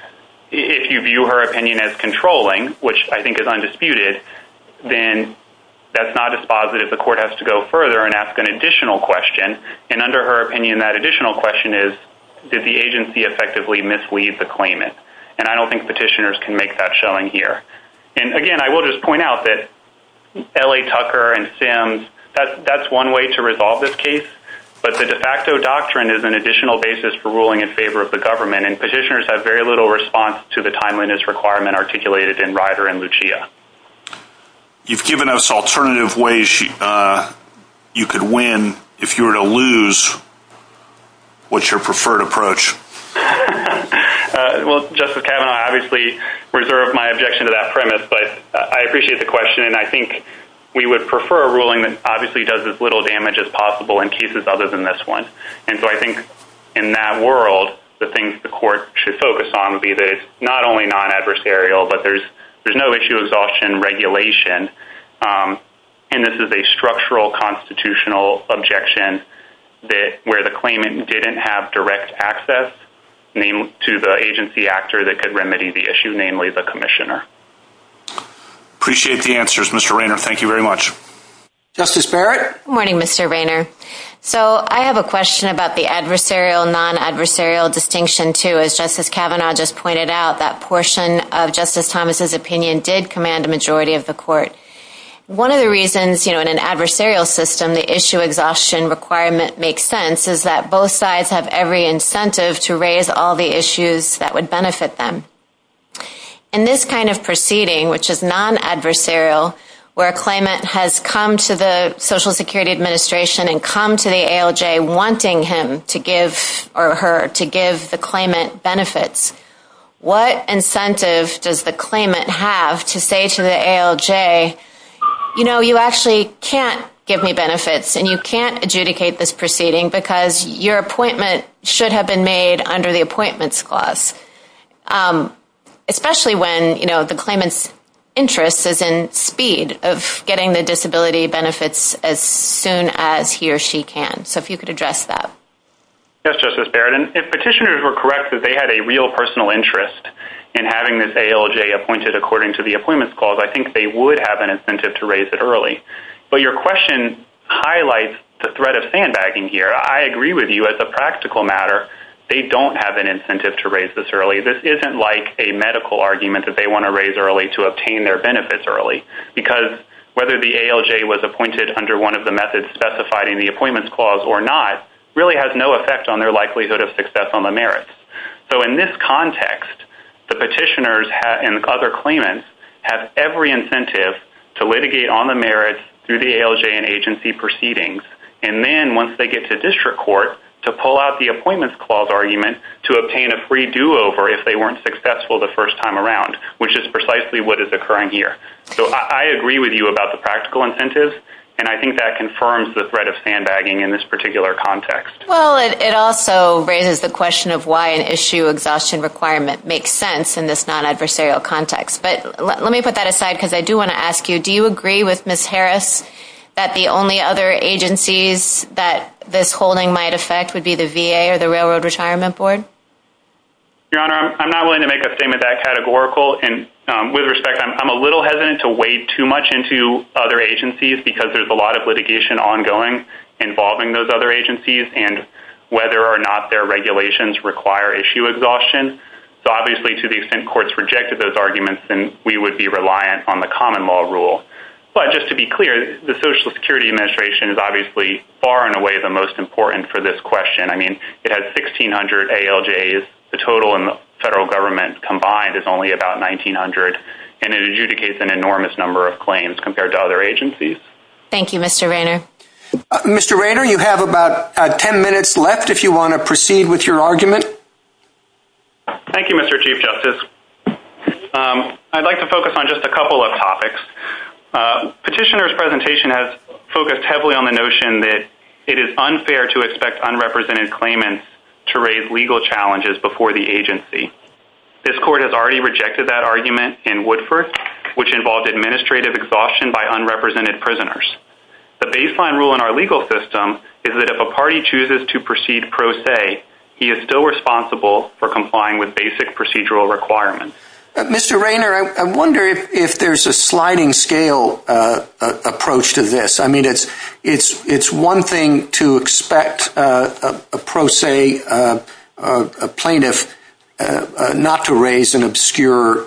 if you view her opinion as controlling, which I think is undisputed, then that's not dispositive. The court has to go further and ask an additional question, and under her opinion, that additional question is, did the agency effectively mislead the claimant? And I don't think petitioners can make that showing here. And again, I will just point out that L.A. Tucker and Sims, that's one way to resolve this case, but the de facto doctrine is an additional basis for ruling in favor of the government, and petitioners have very little response to the timeliness requirement articulated in Ryder and Lucia. You've given us alternative ways you could win if you were to lose. What's your preferred approach? Well, Justice Kavanaugh, I obviously reserve my objection to that premise, but I appreciate the question, and I think we would prefer a ruling that obviously does as little damage as possible in cases other than this one. And so I think in that world, the things the court should focus on would be that it's not only non-adversarial, but there's no issue of exhaustion regulation, and this is a structural constitutional objection where the claimant didn't have direct access to the agency actor that could remedy the issue, namely the commissioner. Appreciate the answers, Mr. Raynor. Thank you very much. Justice Barrett? Good morning, Mr. Raynor. So I have a question about the adversarial, non-adversarial distinction, too. As Justice Kavanaugh just pointed out, that portion of Justice Thomas' opinion did command a majority of the court. One of the reasons, you know, in an adversarial system, the issue exhaustion requirement makes sense is that both sides have every incentive to raise all the issues that would benefit them. In this kind of proceeding, which is non-adversarial, where a claimant has come to the Social Security Administration and come to the ALJ wanting him to give, or her, to give the claimant benefits, what incentive does the claimant have to say to the ALJ, you know, you actually can't give me benefits and you can't adjudicate this proceeding because your appointment should have been made under the appointments clause, especially when, you know, the claimant's interest is in speed of getting the disability benefits as soon as he or she can. So if you could address that. Yes, Justice Barrett. And if petitioners were correct that they had a real personal interest in having this ALJ appointed according to the appointments clause, I think they would have an incentive to raise it early. But your question highlights the threat of sandbagging here. I agree with you. As a practical matter, they don't have an incentive to raise this early. This isn't like a medical argument that they want to raise early to obtain their benefits early because whether the ALJ was appointed under one of the methods specified in the appointments clause or not really has no effect on their likelihood of success on the merits. So in this context, the petitioners and other claimants have every incentive to litigate on the merits through the ALJ and agency proceedings, and then once they get to district court to pull out the appointments clause argument to obtain a free do-over if they weren't successful the first time around, which is precisely what is occurring here. So I agree with you about the practical incentives, and I think that confirms the threat of sandbagging in this particular context. Well, it also raises the question of why an issue exhaustion requirement makes sense in this non-adversarial context. But let me put that aside because I do want to ask you, do you agree with Ms. Harris that the only other agencies that this holding might affect would be the VA or the Railroad Retirement Board? Your Honor, I'm not willing to make a statement that categorical, and with respect, I'm a little hesitant to wade too much into other agencies because there's a lot of litigation ongoing involving those other agencies, and whether or not their regulations require issue exhaustion. So obviously, to the extent courts rejected those arguments, then we would be reliant on the common law rule. But just to be clear, the Social Security Administration is obviously far and away the most important for this question. I mean, it has 1,600 ALJs. The total in the federal government combined is only about 1,900, and it adjudicates an enormous number of claims compared to other agencies. Thank you, Mr. Raynor. Mr. Raynor, you have about 10 minutes left if you want to proceed with your argument. Thank you, Mr. Chief Justice. I'd like to focus on just a couple of topics. Petitioner's presentation has focused heavily on the notion that it is unfair to expect unrepresented claimants to raise legal challenges before the agency. This court has already rejected that argument in Woodford, which involved administrative exhaustion by unrepresented prisoners. The baseline rule in our legal system is that if a party chooses to proceed pro se, he is still responsible for complying with basic procedural requirements. Mr. Raynor, I wonder if there's a sliding-scale approach to this. I mean, it's one thing to expect a pro se plaintiff not to raise an obscure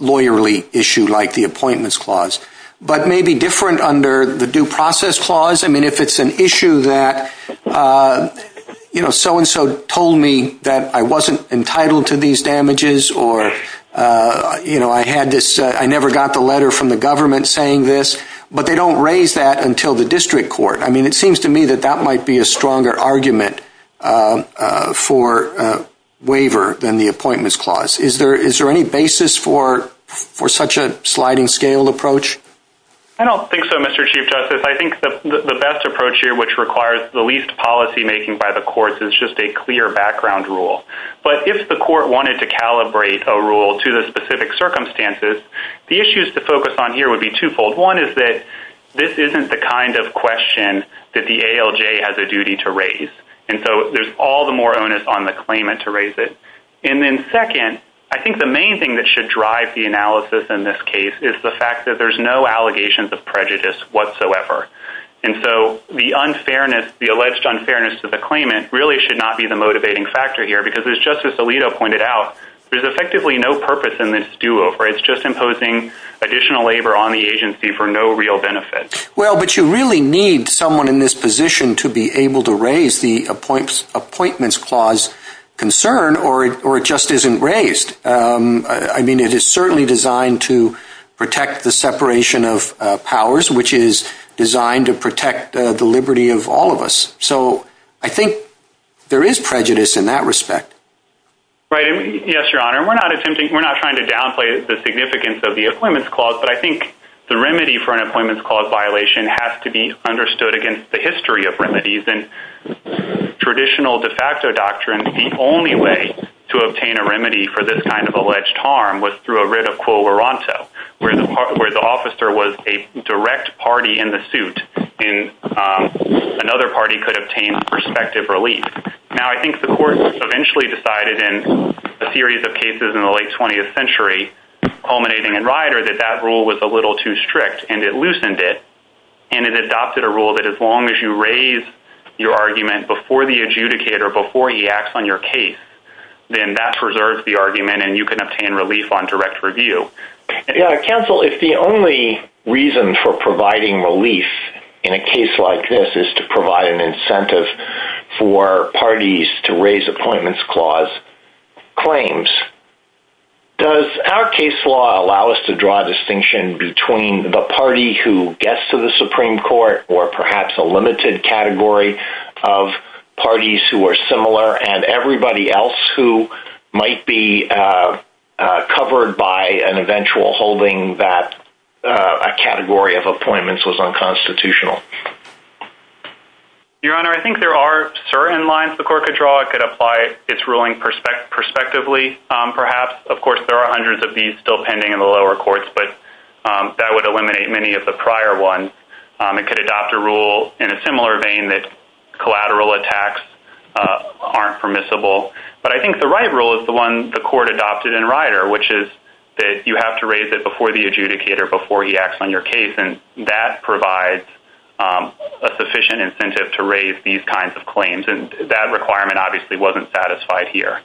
lawyerly issue like the Appointments Clause, but maybe different under the Due Process Clause. I mean, if it's an issue that, you know, so-and-so told me that I wasn't entitled to these damages or I never got the letter from the government saying this, but they don't raise that until the district court. I mean, it seems to me that that might be a stronger argument for waiver than the Appointments Clause. Is there any basis for such a sliding-scale approach? I don't think so, Mr. Chief Justice. I think the best approach here, which requires the least policymaking by the courts, is just a clear background rule. But if the court wanted to calibrate a rule to the specific circumstances, the issues to focus on here would be twofold. One is that this isn't the kind of question that the ALJ has a duty to raise, and so there's all the more onus on the claimant to raise it. And then second, I think the main thing that should drive the analysis in this case is the fact that there's no allegations of prejudice whatsoever. And so the unfairness, the alleged unfairness to the claimant, really should not be the motivating factor here because, as Justice Alito pointed out, there's effectively no purpose in this do-over. It's just imposing additional labor on the agency for no real benefit. Well, but you really need someone in this position to be able to raise the Appointments Clause concern or it just isn't raised. I mean, it is certainly designed to protect the separation of powers, which is designed to protect the liberty of all of us. So I think there is prejudice in that respect. Right. Yes, Your Honor. We're not trying to downplay the significance of the Appointments Clause, but I think the remedy for an Appointments Clause violation has to be understood against the history of remedies and traditional de facto doctrines. And the only way to obtain a remedy for this kind of alleged harm was through a writ of quo veronto, where the officer was a direct party in the suit and another party could obtain prospective relief. Now, I think the Court eventually decided in a series of cases in the late 20th century, culminating in Ryder, that that rule was a little too strict and it loosened it and it adopted a rule that as long as you raise your argument before the adjudicator, before he acts on your case, then that preserves the argument and you can obtain relief on direct review. Counsel, if the only reason for providing relief in a case like this is to provide an incentive for parties to raise Appointments Clause claims, does our case law allow us to draw a distinction between the party who gets to the Supreme Court or perhaps a limited category of parties who are similar and everybody else who might be covered by an eventual holding that a category of appointments was unconstitutional? Your Honor, I think there are certain lines the Court could draw. It could apply its ruling prospectively, perhaps. Of course, there are hundreds of these still pending in the lower courts, but that would eliminate many of the prior ones. It could adopt a rule in a similar vein that collateral attacks aren't permissible. But I think the right rule is the one the Court adopted in Ryder, which is that you have to raise it before the adjudicator, before he acts on your case, and that provides a sufficient incentive to raise these kinds of claims, and that requirement obviously wasn't satisfied here.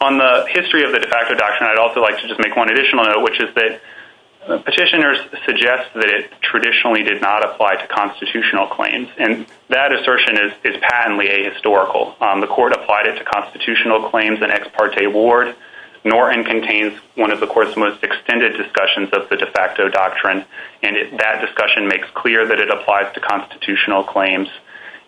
On the history of the de facto doctrine, I'd also like to just make one additional note, which is that petitioners suggest that it traditionally did not apply to constitutional claims, and that assertion is patently ahistorical. The Court applied it to constitutional claims in Ex Parte Ward. Norton contains one of the Court's most extended discussions of the de facto doctrine, and that discussion makes clear that it applies to constitutional claims.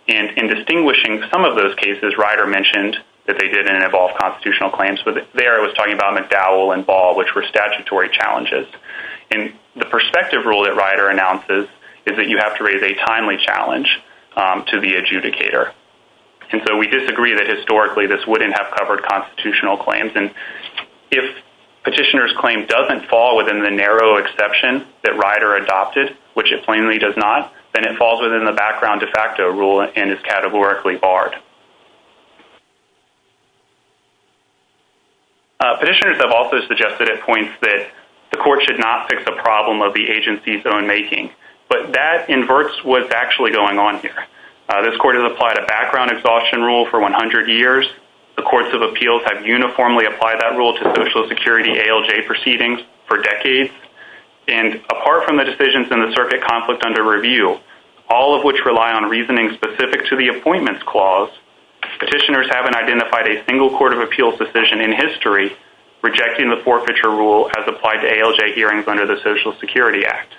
In distinguishing some of those cases, Ryder mentioned that they didn't involve constitutional claims. There it was talking about McDowell and Ball, which were statutory challenges. And the perspective rule that Ryder announces is that you have to raise a timely challenge to the adjudicator. And so we disagree that historically this wouldn't have covered constitutional claims, and if petitioner's claim doesn't fall within the narrow exception that Ryder adopted, which it plainly does not, then it falls within the background de facto rule and is categorically barred. Petitioners have also suggested at points that the Court should not fix a problem of the agency's own making, but that inverts what's actually going on here. This Court has applied a background exhaustion rule for 100 years. The Courts of Appeals have uniformly applied that rule to Social Security ALJ proceedings for decades. And apart from the decisions in the circuit conflict under review, all of which rely on reasoning specific to the appointments clause, petitioners haven't identified a single Court of Appeals decision in history rejecting the forfeiture rule as applied to ALJ hearings under the Social Security Act.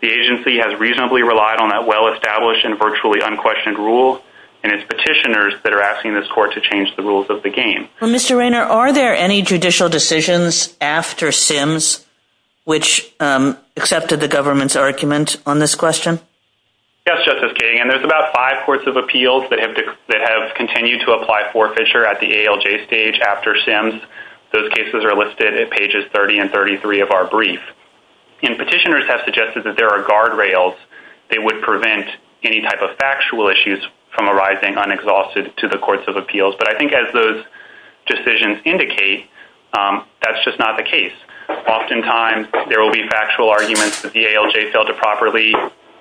The agency has reasonably relied on that well-established and virtually unquestioned rule, and it's petitioners that are asking this Court to change the rules of the game. Mr. Rayner, are there any judicial decisions after Sims which accepted the government's argument on this question? Yes, Justice King. And there's about five Courts of Appeals that have continued to apply forfeiture at the ALJ stage after Sims. Those cases are listed at pages 30 and 33 of our brief. And petitioners have suggested that there are guardrails that would prevent any type of factual issues from arising unexhausted to the Courts of Appeals. But I think as those decisions indicate, that's just not the case. Oftentimes there will be factual arguments that the ALJ failed to properly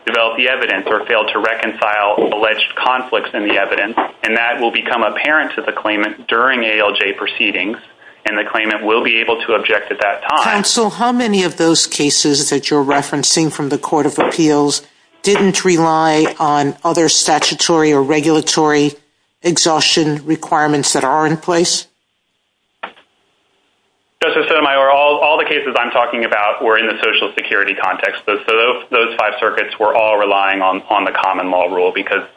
develop the evidence or failed to reconcile alleged conflicts in the evidence, and that will become apparent to the claimant during ALJ proceedings, and the claimant will be able to object at that time. Counsel, how many of those cases that you're referencing from the Court of Appeals didn't rely on other statutory or regulatory exhaustion requirements that are in place? Justice Sotomayor, all the cases I'm talking about were in the Social Security context, so those five circuits were all relying on the common law rule because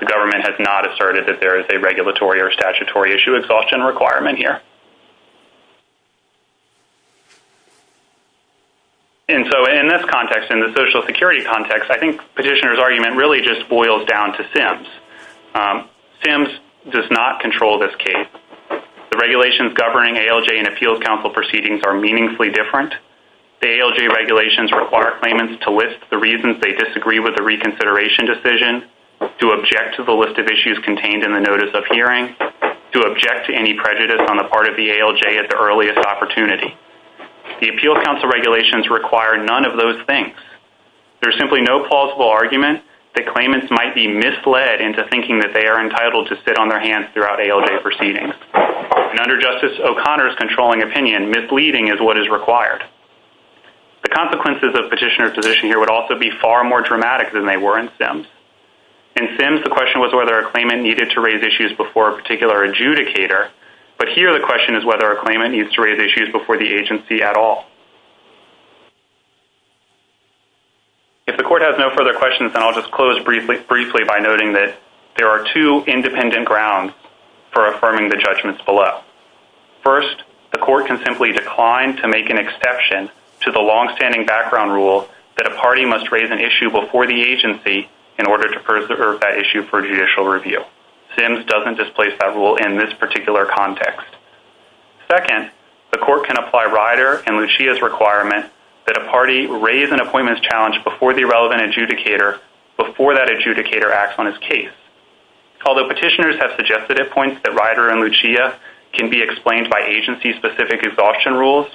the government has not asserted that there is a regulatory or statutory issue exhaustion requirement here. And so in this context, in the Social Security context, I think Petitioner's argument really just boils down to SIMS. SIMS does not control this case. The regulations governing ALJ and Appeals Council proceedings are meaningfully different. The ALJ regulations require claimants to list the reasons they disagree with the reconsideration decision, to object to the list of issues contained in the notice of hearing, to object to any prejudice on the part of the ALJ at the earliest opportunity. The Appeals Council regulations require none of those things. There's simply no plausible argument that claimants might be misled into thinking that they are entitled to sit on their hands throughout ALJ proceedings. And under Justice O'Connor's controlling opinion, misleading is what is required. The consequences of Petitioner's position here would also be far more dramatic than they were in SIMS. In SIMS, the question was whether a claimant needed to raise issues before a particular adjudicator, but here the question is whether a claimant needs to raise issues before the agency at all. If the Court has no further questions, then I'll just close briefly by noting that there are two independent grounds for affirming the judgments below. First, the Court can simply decline to make an exception to the longstanding background rule that a party must raise an issue before the agency in order to preserve that issue for judicial review. SIMS doesn't displace that rule in this particular context. Second, the Court can apply Ryder and Lucia's requirement that a party raise an appointments challenge before the relevant adjudicator before that adjudicator acts on his case. Although Petitioners have suggested at points that Ryder and Lucia can be explained by agency-specific exhaustion rules,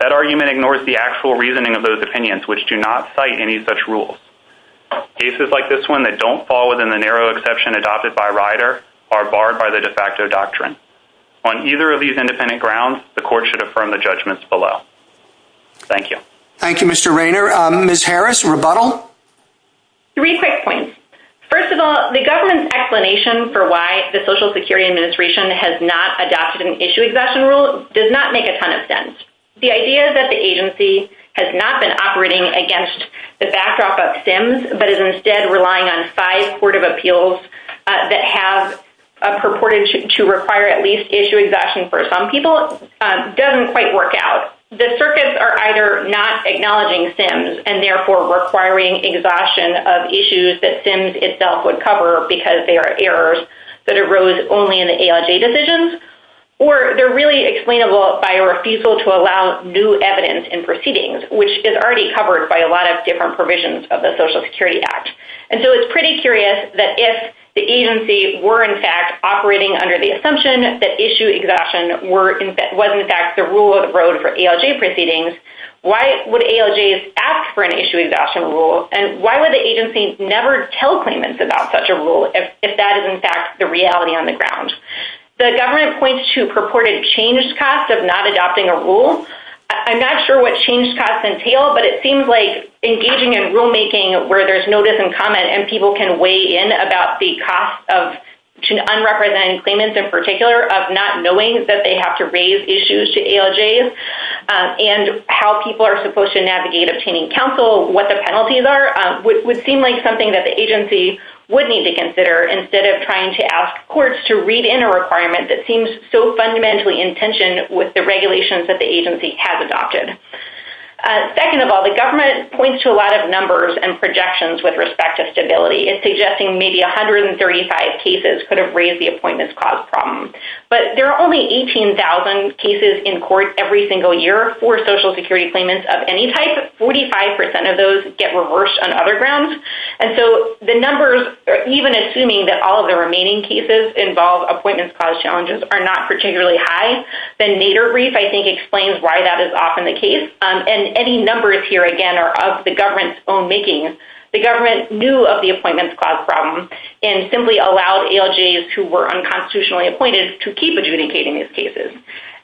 that argument ignores the actual reasoning of those opinions which do not cite any such rules. Cases like this one that don't fall within the narrow exception adopted by Ryder are barred by the de facto doctrine. On either of these independent grounds, the Court should affirm the judgments below. Thank you. Thank you, Mr. Raynor. Ms. Harris, rebuttal? Three quick points. First of all, the government's explanation for why the Social Security Administration has not adopted an issue exhaustion rule does not make a ton of sense. The idea that the agency has not been operating against the backdrop of SIMS but is instead relying on five court of appeals that have purported to require at least issue exhaustion for some people doesn't quite work out. The circuits are either not acknowledging SIMS and therefore requiring exhaustion of issues that SIMS itself would cover because they are errors that arose only in the ALJ decisions, or they're really explainable by or feasible to allow new evidence in proceedings, which is already covered by a lot of different provisions of the Social Security Act. And so it's pretty curious that if the agency were in fact operating under the assumption that issue exhaustion was in fact the rule of the road for ALJ proceedings, why would ALJs ask for an issue exhaustion rule? And why would the agency never tell claimants about such a rule if that is in fact the reality on the ground? The government points to purported changed costs of not adopting a rule. I'm not sure what changed costs entail, but it seems like engaging in rulemaking where there's notice and comment and people can weigh in about the costs of unrepresented claimants in particular of not knowing that they have to raise issues to ALJs and how people are supposed to navigate obtaining counsel, what the penalties are, would seem like something that the agency would need to consider instead of trying to ask courts to read in a requirement that seems so fundamentally in tension with the regulations that the agency has adopted. Second of all, the government points to a lot of numbers and projections with respect to stability in suggesting maybe 135 cases could have raised the appointments cost problem. But there are only 18,000 cases in court every single year for social security claimants of any type. Forty-five percent of those get reversed on other grounds. And so the numbers, even assuming that all of the remaining cases involve appointments cost challenges, are not particularly high. The Nader brief, I think, explains why that is often the case. And any numbers here, again, are of the government's own making. The government knew of the appointments cost problem and simply allowed ALJs who were unconstitutionally appointed to keep adjudicating these cases.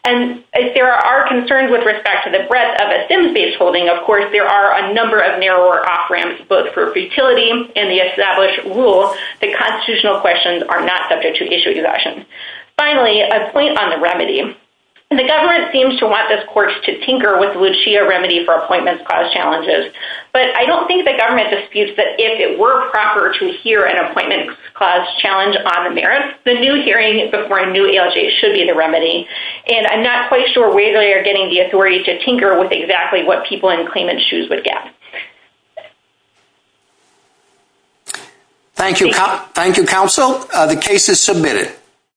And if there are concerns with respect to the breadth of a SIMS-based holding, of course, there are a number of narrower off-ramps, both for futility and the established rule that constitutional questions are not subject to issue exhaustion. Finally, a point on the remedy. The government seems to want this court to tinker with Lucia remedy for appointments cost challenges. But I don't think the government disputes that if it were proper to hear an appointments cost challenge on the merits, the new hearing before a new ALJ should be the remedy. And I'm not quite sure where they are getting the authority to tinker with exactly what people in claimant's shoes would get. Thank you, counsel. The case is submitted.